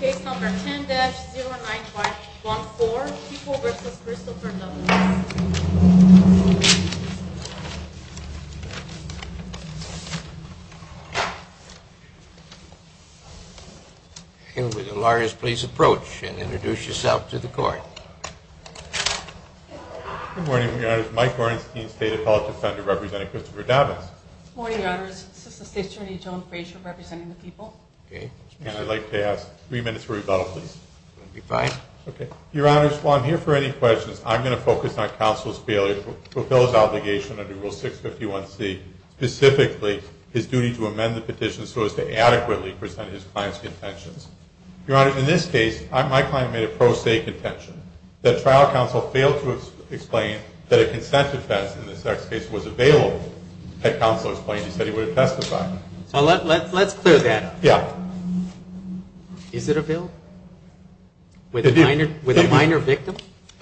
Case number 10-0914, People v. Christopher Dobbins. And would the lawyers please approach and introduce yourself to the court. Good morning, Your Honors. Mike Borenstein, State Appellate Defender, representing Christopher Dobbins. Good morning, Your Honors. Assistant State Attorney Joan Frasier, representing the People. And I'd like to ask three minutes for rebuttal, please. That would be fine. Okay. Your Honors, while I'm here for any questions, I'm going to focus on counsel's failure to fulfill his obligation under Rule 651c, specifically his duty to amend the petition so as to adequately present his client's contentions. Your Honors, in this case, my client made a pro se contention. The trial counsel failed to explain that a consent defense in the sex case was available. That counsel explained he said he would have testified. Let's clear that. Yeah. Is it a bill with a minor victim?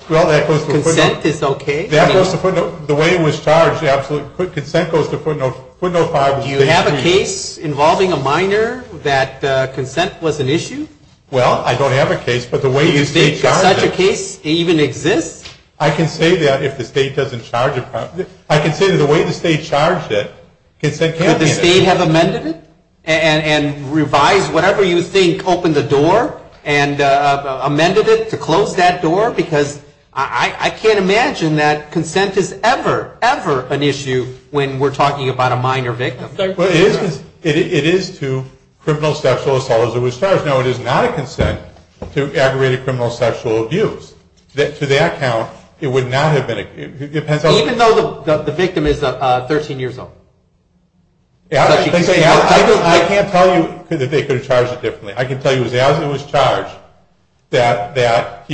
Well, that goes to footnote. Consent is okay? That goes to footnote. The way it was charged, the absolute consent goes to footnote 5. Do you have a case involving a minor that consent was an issue? Well, I don't have a case, but the way the state charged it. Does such a case even exist? I can say that if the state doesn't charge it. I can say that the way the state charged it, consent can't be an issue. Would the state have amended it and revised whatever you think opened the door and amended it to close that door? Because I can't imagine that consent is ever, ever an issue when we're talking about a minor victim. Well, it is to criminal sexual assault as it was charged. No, it is not a consent to aggravated criminal sexual abuse. To that count, it would not have been. Even though the victim is 13 years old? I can't tell you that they could have charged it differently. I can tell you that as it was charged, that it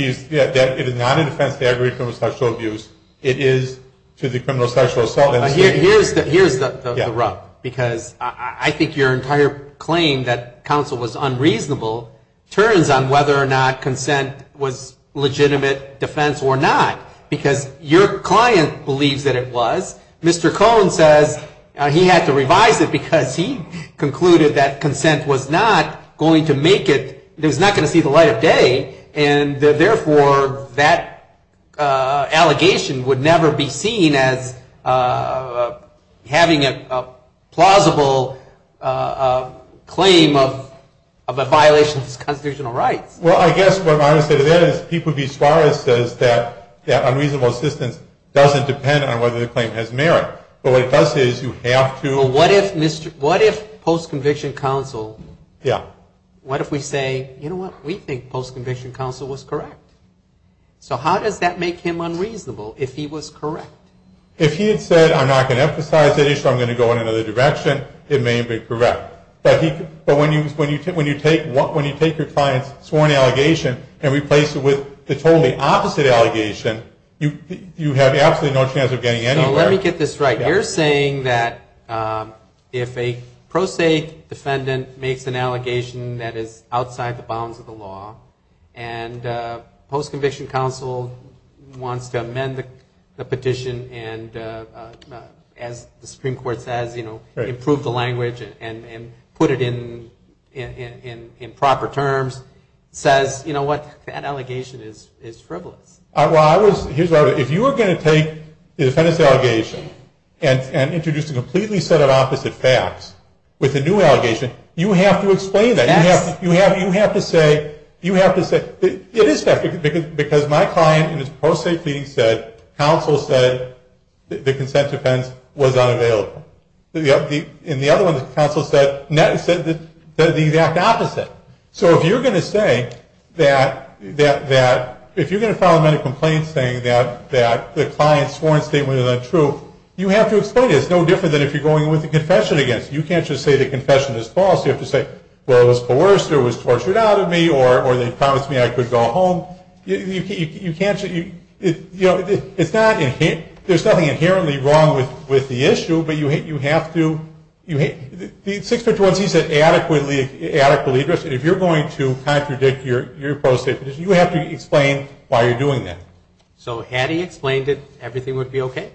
is not a defense to aggravated criminal sexual abuse. It is to the criminal sexual assault. Here's the rub, because I think your entire claim that counsel was unreasonable turns on whether or not consent was legitimate defense or not. Because your client believes that it was. Mr. Cohen says he had to revise it because he concluded that consent was not going to make it, it was not going to see the light of day. And therefore, that allegation would never be seen as having a plausible claim of a violation of his constitutional rights. Well, I guess what I would say to that is that People v. Suarez says that unreasonable assistance doesn't depend on whether the claim has merit. But what it does say is you have to... But what if post-conviction counsel... Yeah. What if we say, you know what, we think post-conviction counsel was correct. So how does that make him unreasonable if he was correct? If he had said, I'm not going to emphasize that issue, I'm going to go in another direction, it may have been correct. But when you take your client's sworn allegation and replace it with the totally opposite allegation, you have absolutely no chance of getting anywhere. Let me get this right. You're saying that if a pro se defendant makes an allegation that is outside the bounds of the law, and post-conviction counsel wants to amend the petition and, as the Supreme Court says, improve the language and put it in proper terms, says, you know what, that allegation is frivolous. Well, I was... If you were going to take the defendant's allegation and introduce a completely set of opposite facts with a new allegation, you have to explain that. Yes. You have to say, you have to say, it is fact, because my client in his post-state pleading said, counsel said the consent defense was unavailable. In the other one, the counsel said the exact opposite. So if you're going to say that, if you're going to file a medical complaint saying that the client's sworn statement is untrue, you have to explain it. It's no different than if you're going in with a confession against. You can't just say the confession is false. You have to say, well, it was coerced, or it was tortured out of me, or they promised me I could go home. You can't just... You know, it's not... There's nothing inherently wrong with the issue, but you have to... The six-page one sees an adequately addressed, and if you're going to contradict your post-state petition, you have to explain why you're doing that. So had he explained it, everything would be okay?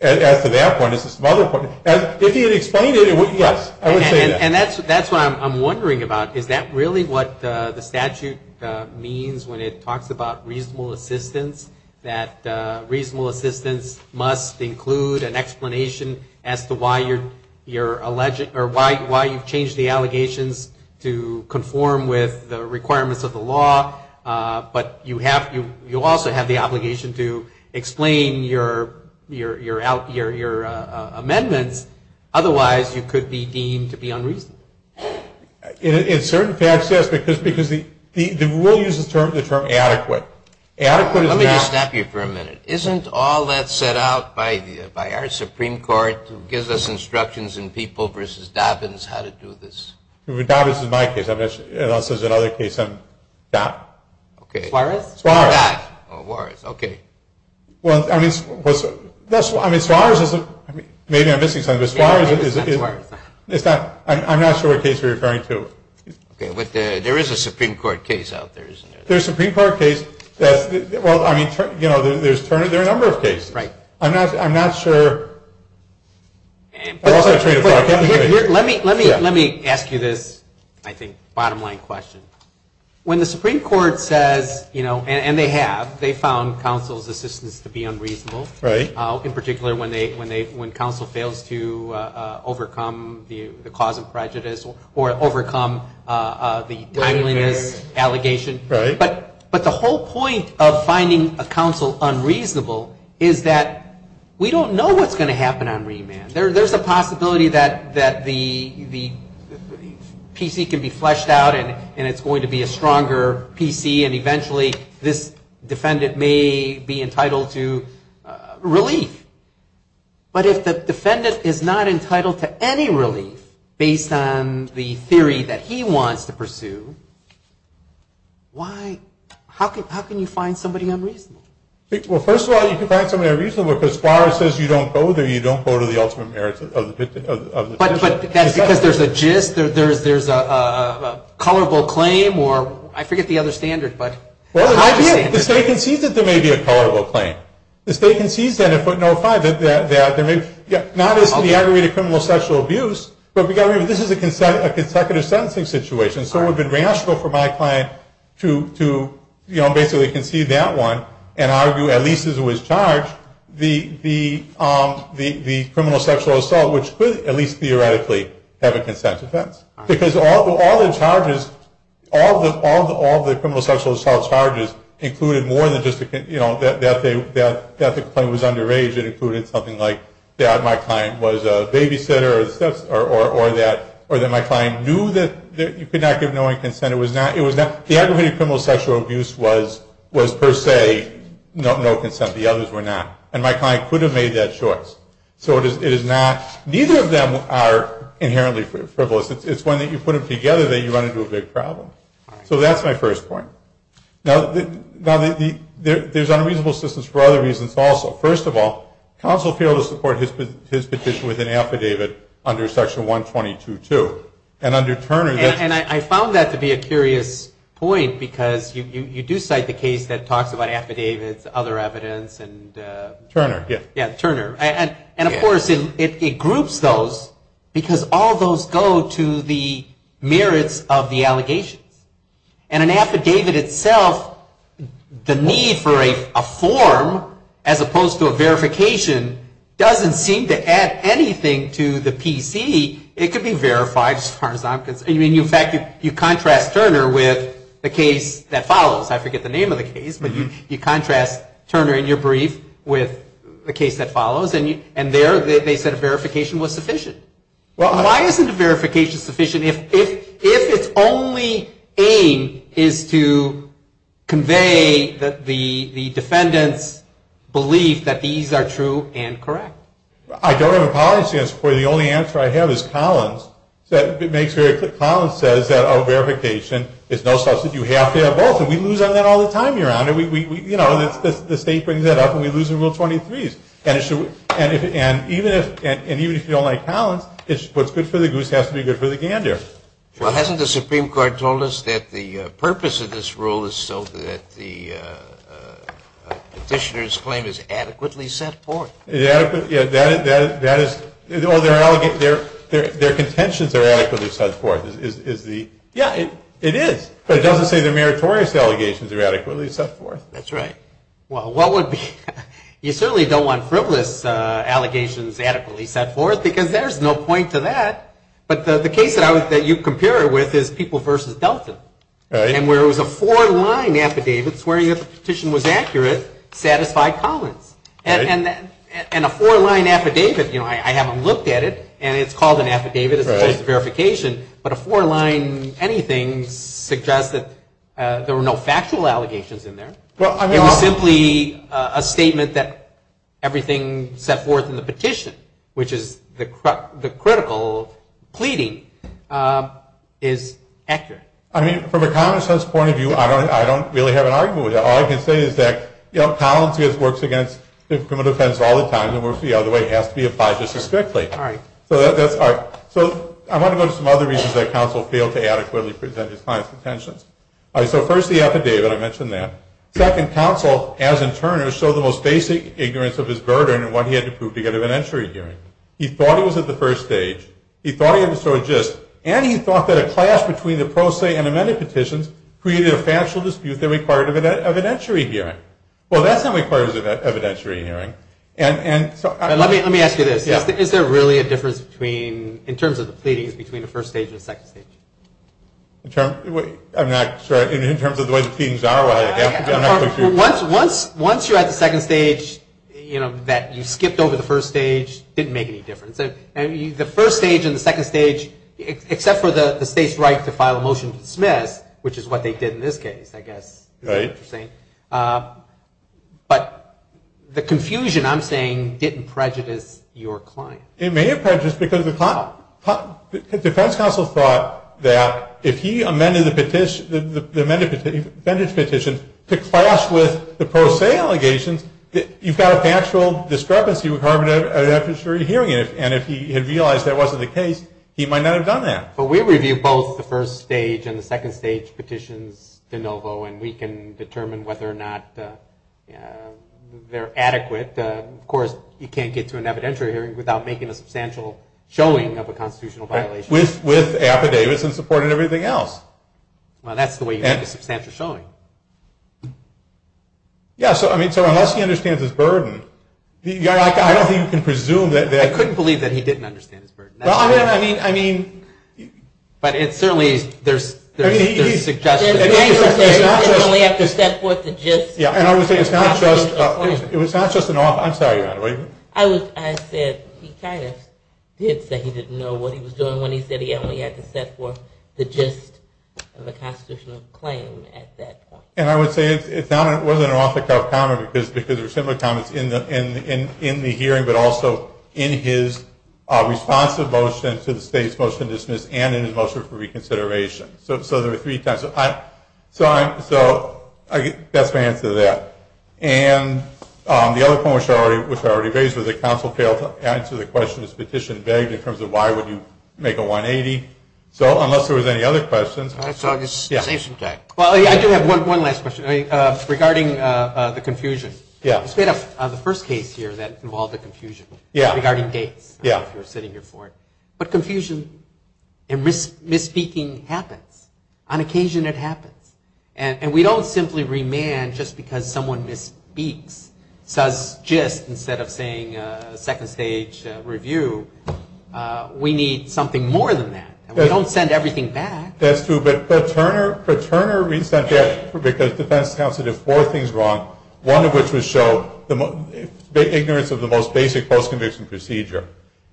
As to that point, is this another point? If he had explained it, it wouldn't... Yes, I would say that. And that's what I'm wondering about. Is that really what the statute means when it talks about reasonable assistance, that reasonable assistance must include an explanation as to why you're alleged... or why you've changed the allegations to conform with the requirements of the law, but you also have the obligation to explain your amendments. Otherwise, you could be deemed to be unreasonable. In certain facts, yes, because the rule uses the term adequate. Adequate is not... Let me just stop you for a minute. Isn't all that set out by our Supreme Court gives us instructions in People v. Dobbins how to do this? Dobbins is my case. And also there's another case on that. Suarez? Suarez. Suarez, okay. Well, I mean, Suarez isn't... Maybe I'm missing something, but Suarez is... I'm not sure what case you're referring to. Okay, but there is a Supreme Court case out there, isn't there? There's a Supreme Court case that's... Well, I mean, there's a number of cases. I'm not sure... Let me ask you this, I think, bottom line question. When the Supreme Court says, and they have, they found counsel's assistance to be unreasonable, in particular when counsel fails to overcome the cause of prejudice or overcome the timeliness allegation. But the whole point of finding a counsel unreasonable is that we don't know what's going to happen on remand. There's a possibility that the PC can be fleshed out and it's going to be a stronger PC, and eventually this defendant may be entitled to relief. But if the defendant is not entitled to any relief based on the theory that he wants to pursue, why... How can you find somebody unreasonable? Well, first of all, you can find somebody unreasonable because Suarez says you don't go there, you don't go to the ultimate merits of the... But that's because there's a gist, there's a colorable claim, or I forget the other standard, but... Well, the state concedes that there may be a colorable claim. The state concedes that if we're notified that there may... Not as to the aggregate of criminal sexual abuse, but we've got to remember this is a consecutive sentencing situation. So it would have been rational for my client to, you know, basically concede that one and argue, at least as it was charged, the criminal sexual assault, which could at least theoretically have a consent offense. Because all the charges, all the criminal sexual assault charges included more than just, you know, that the complaint was underage. It included something like that my client was a babysitter or that my client knew that you could not give no one consent. The aggregate of criminal sexual abuse was, per se, no consent. The others were not. And my client could have made that choice. So it is not... Neither of them are inherently frivolous. It's when you put them together that you run into a big problem. So that's my first point. Now, there's unreasonable assistance for other reasons also. First of all, counsel failed to support his petition with an affidavit under Section 122-2. And under Turner... And I found that to be a curious point because you do cite the case that talks about affidavits, other evidence, and... Turner, yeah. Yeah, Turner. And, of course, it groups those because all those go to the merits of the allegations. And an affidavit itself, the need for a form as opposed to a verification doesn't seem to add anything to the PC. It could be verified as far as I'm concerned. I mean, in fact, you contrast Turner with the case that follows. I forget the name of the case, but you contrast Turner in your brief with the case that follows. And there they said a verification was sufficient. Why isn't a verification sufficient if its only aim is to convey the defendant's belief that these are true and correct? I don't have a policy on support. The only answer I have is Collins. Collins says that a verification is no substance. You have to have both. And we lose on that all the time, Your Honor. You know, the state brings that up and we lose in Rule 23s. And even if you don't like Collins, what's good for the goose has to be good for the gander. Well, hasn't the Supreme Court told us that the purpose of this rule is so that the petitioner's claim is adequately set forth? Yeah, that is ñ well, their contentions are adequately set forth is the ñ yeah, it is. But it doesn't say the meritorious allegations are adequately set forth. That's right. Well, what would be ñ you certainly don't want frivolous allegations adequately set forth because there's no point to that. But the case that you compare it with is People v. Delton. Right. And where it was a four-line affidavit swearing that the petition was accurate satisfied Collins. Right. And a four-line affidavit, you know, I haven't looked at it, and it's called an affidavit. Right. It's just a verification. But a four-line anything suggests that there were no factual allegations in there. Well, I mean, I'll ñ It was simply a statement that everything set forth in the petition, which is the critical pleading, is accurate. I mean, from a common sense point of view, I don't really have an argument with that. All I can say is that, you know, Collins works against the criminal defense all the time, and works the other way. It has to be applied just as strictly. All right. So that's ñ all right. So I want to go to some other reasons that counsel failed to adequately present his client's intentions. All right. So first, the affidavit. I mentioned that. Second, counsel, as in Turner, showed the most basic ignorance of his burden in what he had to prove to get him an entry hearing. He thought he was at the first stage. He thought he had to show a gist. And he thought that a clash between the pro se and amended petitions created a factual dispute that required an evidentiary hearing. Well, that's not required as an evidentiary hearing. And so ñ Let me ask you this. Yeah. Is there really a difference between ñ in terms of the pleadings, between the first stage and the second stage? I'm not ñ sorry. In terms of the way the pleadings are, well, I guess ñ Once you're at the second stage, you know, that you skipped over the first stage didn't make any difference. The first stage and the second stage, except for the state's right to file a motion to dismiss, which is what they did in this case, I guess. Right. Interesting. But the confusion, I'm saying, didn't prejudice your client. It may have prejudiced because the defense counsel thought that if he amended the petition, the amended petition to clash with the pro se allegations, you've got a factual discrepancy that would harm an evidentiary hearing. And if he had realized that wasn't the case, he might not have done that. But we review both the first stage and the second stage petitions de novo, and we can determine whether or not they're adequate. Of course, you can't get to an evidentiary hearing without making a substantial showing of a constitutional violation. With affidavits and supporting everything else. Well, that's the way you make a substantial showing. Yeah. So, I mean, so unless he understands his burden, I don't think you can presume that. I couldn't believe that he didn't understand his burden. Well, I mean, I mean. But it certainly is. There's suggestions. He didn't only have to set forth the gist. Yeah. And I would say it's not just. It was not just an off. I'm sorry, Your Honor. I said he kind of did say he didn't know what he was doing when he said he only had to set forth the gist of a constitutional claim at that point. And I would say it wasn't an off the cuff comment because there were similar comments in the hearing, but also in his responsive motion to the state's motion to dismiss and in his motion for reconsideration. So there were three types. So that's my answer to that. And the other point, which I already raised, was that counsel failed to answer the question this petition begged in terms of why would you make a 180. So unless there was any other questions. All right. So I'll just save some time. Well, I do have one last question regarding the confusion. Yeah. The first case here that involved a confusion. Yeah. Regarding Gates. Yeah. I don't know if you were sitting here for it. But confusion and misspeaking happens. On occasion it happens. And we don't simply remand just because someone misspeaks, says gist, instead of saying second stage review. We need something more than that. We don't send everything back. That's true. But Turner resent that because defense counsel did four things wrong, one of which was show ignorance of the most basic post-conviction procedure.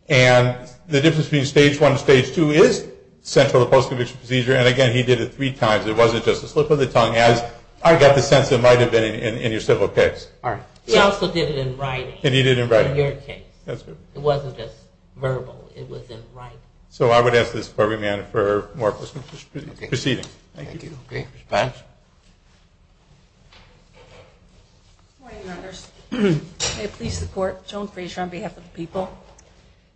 And the difference between stage one and stage two is central to post-conviction procedure. And, again, he did it three times. It wasn't just a slip of the tongue, as I got the sense it might have been in your civil case. All right. He also did it in writing. And he did it in writing. In your case. That's good. It wasn't just verbal. It was in writing. So I would ask that this be remanded for more proceedings. Okay. Thank you. Thank you. Okay. Ms. Banks? Good morning, Renders. May it please the court, Joan Frazier on behalf of the people.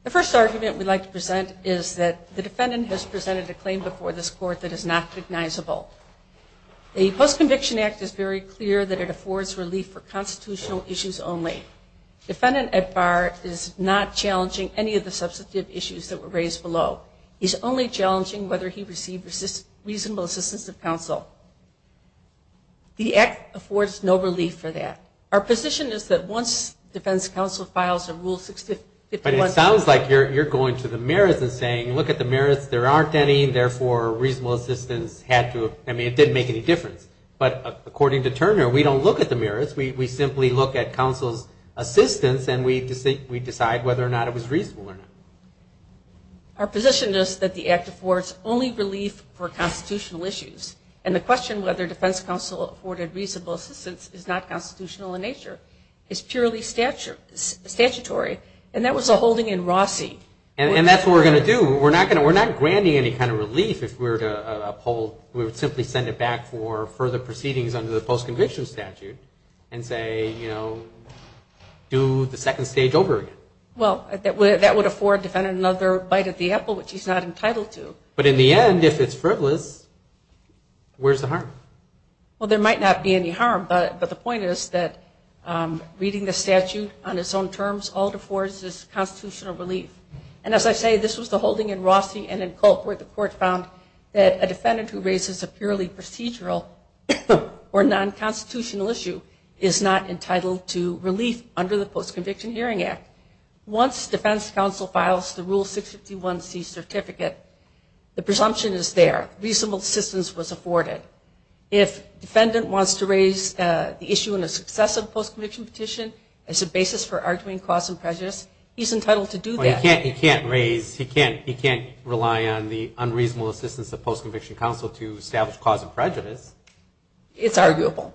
The first argument we'd like to present is that the defendant has presented a claim before this court that is not recognizable. The Post-Conviction Act is very clear that it affords relief for constitutional issues only. Defendant Ed Barr is not challenging any of the substantive issues that were raised below. He's only challenging whether he received reasonable assistance of counsel. The Act affords no relief for that. Our position is that once defense counsel files a Rule 651- But it sounds like you're going to the merits and saying, look at the merits, there aren't any, and therefore reasonable assistance had to, I mean, it didn't make any difference. But according to Turner, we don't look at the merits. We simply look at counsel's assistance and we decide whether or not it was reasonable or not. Our position is that the Act affords only relief for constitutional issues. And the question whether defense counsel afforded reasonable assistance is not constitutional in nature. It's purely statutory. And that was a holding in Rossi. And that's what we're going to do. We're not granting any kind of relief if we were to uphold. We would simply send it back for further proceedings under the post-conviction statute and say, you know, do the second stage over again. Well, that would afford defendant another bite at the apple, which he's not entitled to. But in the end, if it's frivolous, where's the harm? Well, there might not be any harm. But the point is that reading the statute on its own terms, all it affords is constitutional relief. And as I say, this was the holding in Rossi and in Culp where the court found that a defendant who raises a purely procedural or non-constitutional issue is not entitled to relief under the Post-Conviction Hearing Act. Once defense counsel files the Rule 651C certificate, the presumption is there. Reasonable assistance was afforded. If defendant wants to raise the issue in a successive post-conviction petition as a basis for arguing cause and prejudice, he's entitled to do that. He can't raise, he can't rely on the unreasonable assistance of post-conviction counsel to establish cause and prejudice. It's arguable.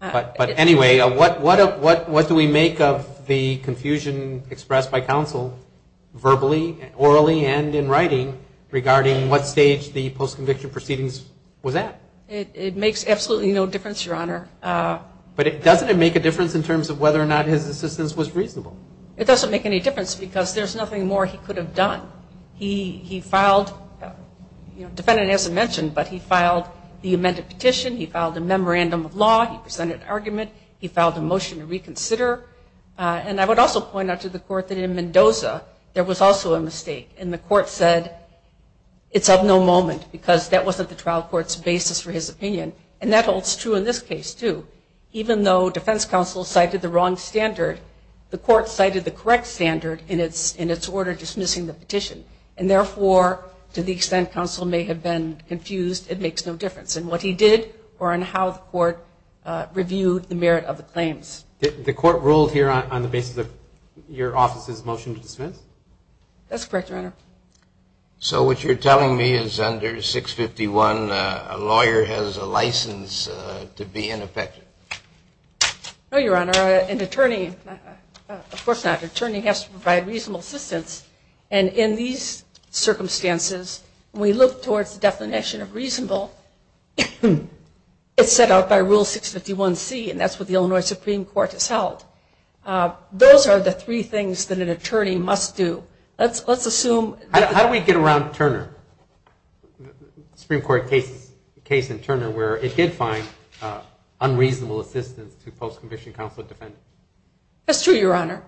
But anyway, what do we make of the confusion expressed by counsel verbally, orally, and in writing regarding what stage the post-conviction proceedings was at? It makes absolutely no difference, Your Honor. But doesn't it make a difference in terms of whether or not his assistance was reasonable? It doesn't make any difference because there's nothing more he could have done. He filed, defendant hasn't mentioned, but he filed the amended petition, he filed a memorandum of law, he presented an argument, he filed a motion to reconsider. And I would also point out to the court that in Mendoza there was also a mistake, and the court said it's of no moment because that wasn't the trial court's basis for his opinion. And that holds true in this case, too. Even though defense counsel cited the wrong standard, the court cited the correct standard in its order dismissing the petition. And therefore, to the extent counsel may have been confused, it makes no difference in what he did or in how the court reviewed the merit of the claims. The court ruled here on the basis of your office's motion to dismiss? That's correct, Your Honor. So what you're telling me is under 651, a lawyer has a license to be ineffective? No, Your Honor. An attorney, of course not, an attorney has to provide reasonable assistance. And in these circumstances, when we look towards the definition of reasonable, it's set out by Rule 651C, and that's what the Illinois Supreme Court has held. Those are the three things that an attorney must do. How do we get around Turner, the Supreme Court case in Turner, where it did find unreasonable assistance to post-conviction counsel defense? That's true, Your Honor.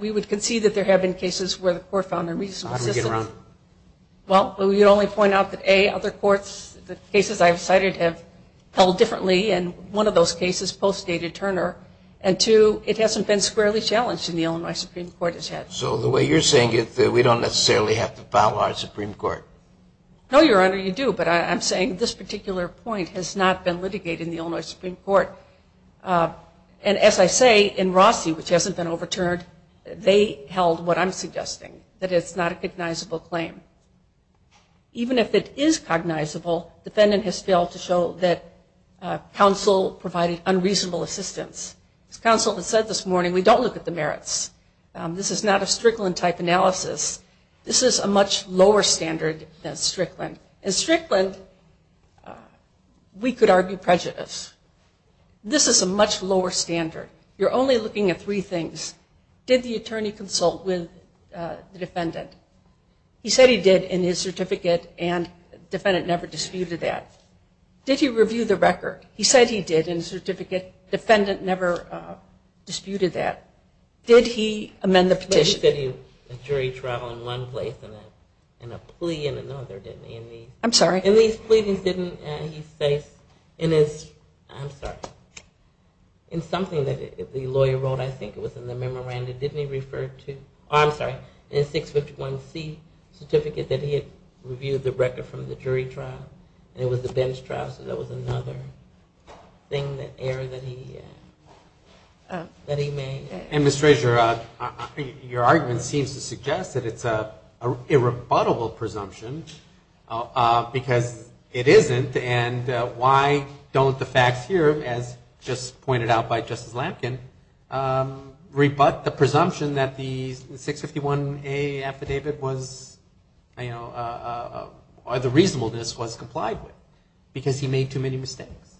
We would concede that there have been cases where the court found a reasonable assistance. How do we get around it? Well, we would only point out that, A, other courts, the cases I've cited have held differently, and one of those cases postdated Turner. And, two, it hasn't been squarely challenged in the Illinois Supreme Court. So the way you're saying it, we don't necessarily have to follow our Supreme Court? No, Your Honor, you do. But I'm saying this particular point has not been litigated in the Illinois Supreme Court. And as I say, in Rossi, which hasn't been overturned, they held what I'm suggesting, that it's not a cognizable claim. Even if it is cognizable, the defendant has failed to show that counsel provided unreasonable assistance. As counsel has said this morning, we don't look at the merits. This is not a Strickland-type analysis. This is a much lower standard than Strickland. In Strickland, we could argue prejudice. This is a much lower standard. You're only looking at three things. Did the attorney consult with the defendant? He said he did in his certificate, and the defendant never disputed that. Did he review the record? He said he did in his certificate. The defendant never disputed that. Did he amend the petition? He said he did a jury trial in one place and a plea in another, didn't he? I'm sorry? In these pleadings, didn't he say, in his, I'm sorry, in something that the lawyer wrote, I think it was in the memorandum, didn't he refer to, oh, I'm sorry, in his 651C certificate, that he had reviewed the record from the jury trial? And it was the bench trial, so that was another error that he made. And, Ms. Treasurer, your argument seems to suggest that it's an irrebuttable presumption because it isn't, and why don't the facts here, as just pointed out by Justice Lampkin, rebut the presumption that the 651A affidavit was, you know, the reasonableness was complied with because he made too many mistakes?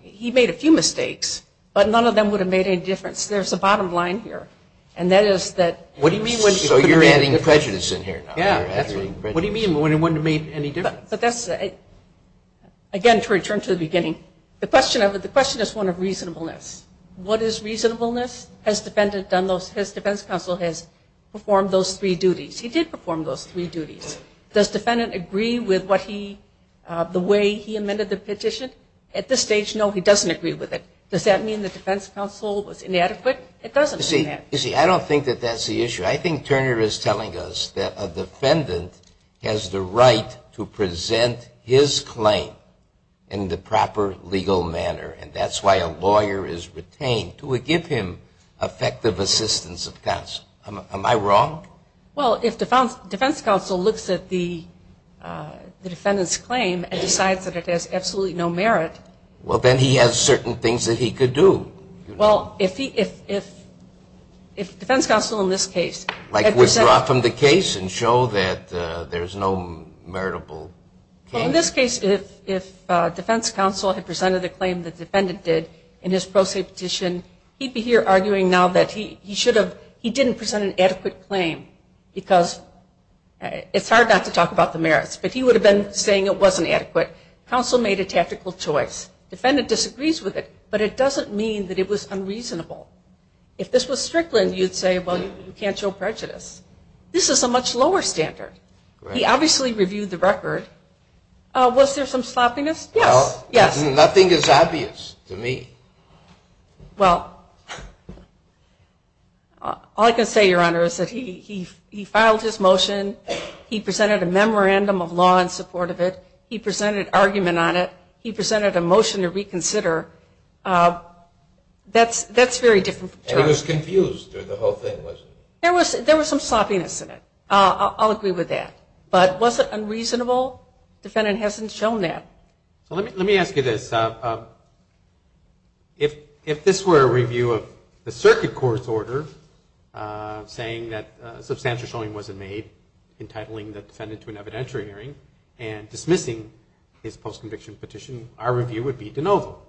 He made a few mistakes, but none of them would have made any difference. There's a bottom line here, and that is that. So you're adding prejudice in here now? Yeah, that's right. What do you mean, it wouldn't have made any difference? But that's, again, to return to the beginning, the question is one of reasonableness. What is reasonableness? His defense counsel has performed those three duties. He did perform those three duties. Does the defendant agree with what he, the way he amended the petition? At this stage, no, he doesn't agree with it. Does that mean the defense counsel was inadequate? It doesn't mean that. You see, I don't think that that's the issue. I think Turner is telling us that a defendant has the right to present his claim in the proper legal manner, and that's why a lawyer is retained to give him effective assistance of counsel. Am I wrong? Well, if defense counsel looks at the defendant's claim and decides that it has absolutely no merit. Well, then he has certain things that he could do. Well, if defense counsel in this case. Like withdraw from the case and show that there's no meritable case? Well, in this case, if defense counsel had presented the claim the defendant did in his pro se petition, he'd be here arguing now that he didn't present an adequate claim because it's hard not to talk about the merits, but he would have been saying it wasn't adequate. Counsel made a tactical choice. Defendant disagrees with it, but it doesn't mean that it was unreasonable. If this was Strickland, you'd say, well, you can't show prejudice. This is a much lower standard. He obviously reviewed the record. Was there some sloppiness? Yes. Nothing is obvious to me. Well, all I can say, Your Honor, is that he filed his motion. He presented a memorandum of law in support of it. He presented argument on it. He presented a motion to reconsider. That's very different. And he was confused through the whole thing, wasn't he? There was some sloppiness in it. I'll agree with that. But was it unreasonable? Defendant hasn't shown that. Let me ask you this. If this were a review of the circuit court's order, saying that substantial showing wasn't made, entitling the defendant to an evidentiary hearing, and dismissing his post-conviction petition, our review would be de novo.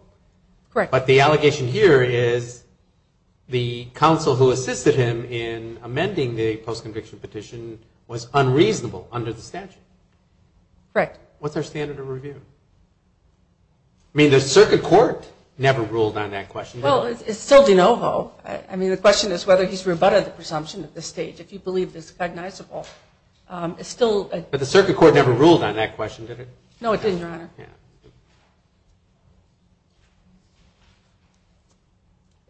But the allegation here is the counsel who assisted him in amending the post-conviction petition was unreasonable under the statute. Correct. What's our standard of review? I mean, the circuit court never ruled on that question, did it? Well, it's still de novo. I mean, the question is whether he's rebutted the presumption at this stage. If you believe it's recognizable. But the circuit court never ruled on that question, did it? No, it didn't, Your Honor. All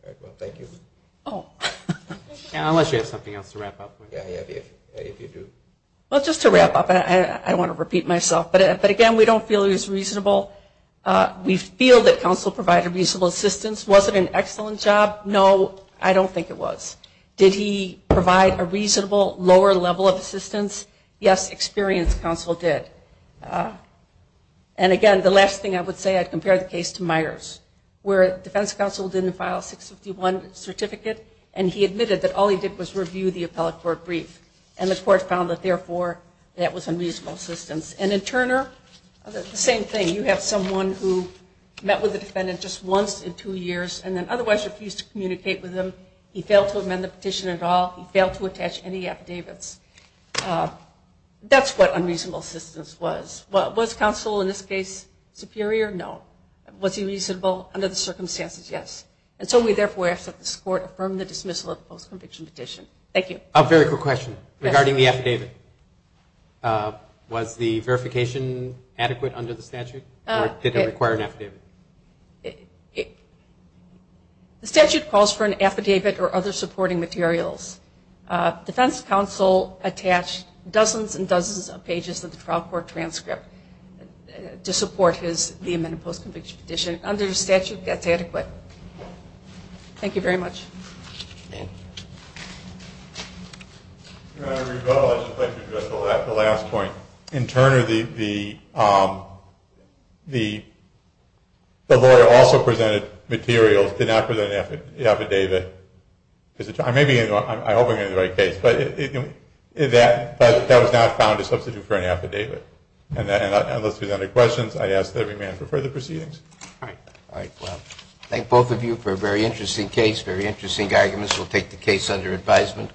right, well, thank you. Unless you have something else to wrap up with. Yeah, if you do. Well, just to wrap up, I want to repeat myself. But, again, we don't feel it was reasonable. We feel that counsel provided reasonable assistance. Was it an excellent job? No, I don't think it was. Did he provide a reasonable lower level of assistance? Yes, experienced counsel did. And, again, the last thing I would say, I'd compare the case to Myers, where defense counsel didn't file a 651 certificate, and he admitted that all he did was review the appellate court brief. And the court found that, therefore, that was unreasonable assistance. And in Turner, the same thing. You have someone who met with the defendant just once in two years and then otherwise refused to communicate with him. He failed to amend the petition at all. He failed to attach any affidavits. That's what unreasonable assistance was. Was counsel in this case superior? No. Was he reasonable under the circumstances? Yes. And so we therefore ask that this court affirm the dismissal of the post-conviction petition. Thank you. A very quick question regarding the affidavit. Was the verification adequate under the statute, or did it require an affidavit? The statute calls for an affidavit or other supporting materials. Defense counsel attached dozens and dozens of pages of the trial court transcript to support the amended post-conviction petition. Under the statute, that's adequate. Thank you very much. Thank you. Your Honor, I would like to address the last point. In Turner, the lawyer also presented materials, did not present an affidavit. I hope I'm getting the right case. But that was not found to substitute for an affidavit. And unless there's any other questions, I ask that we amend for further proceedings. All right. All right. Well, thank both of you for a very interesting case, very interesting arguments. We'll take the case under advisement.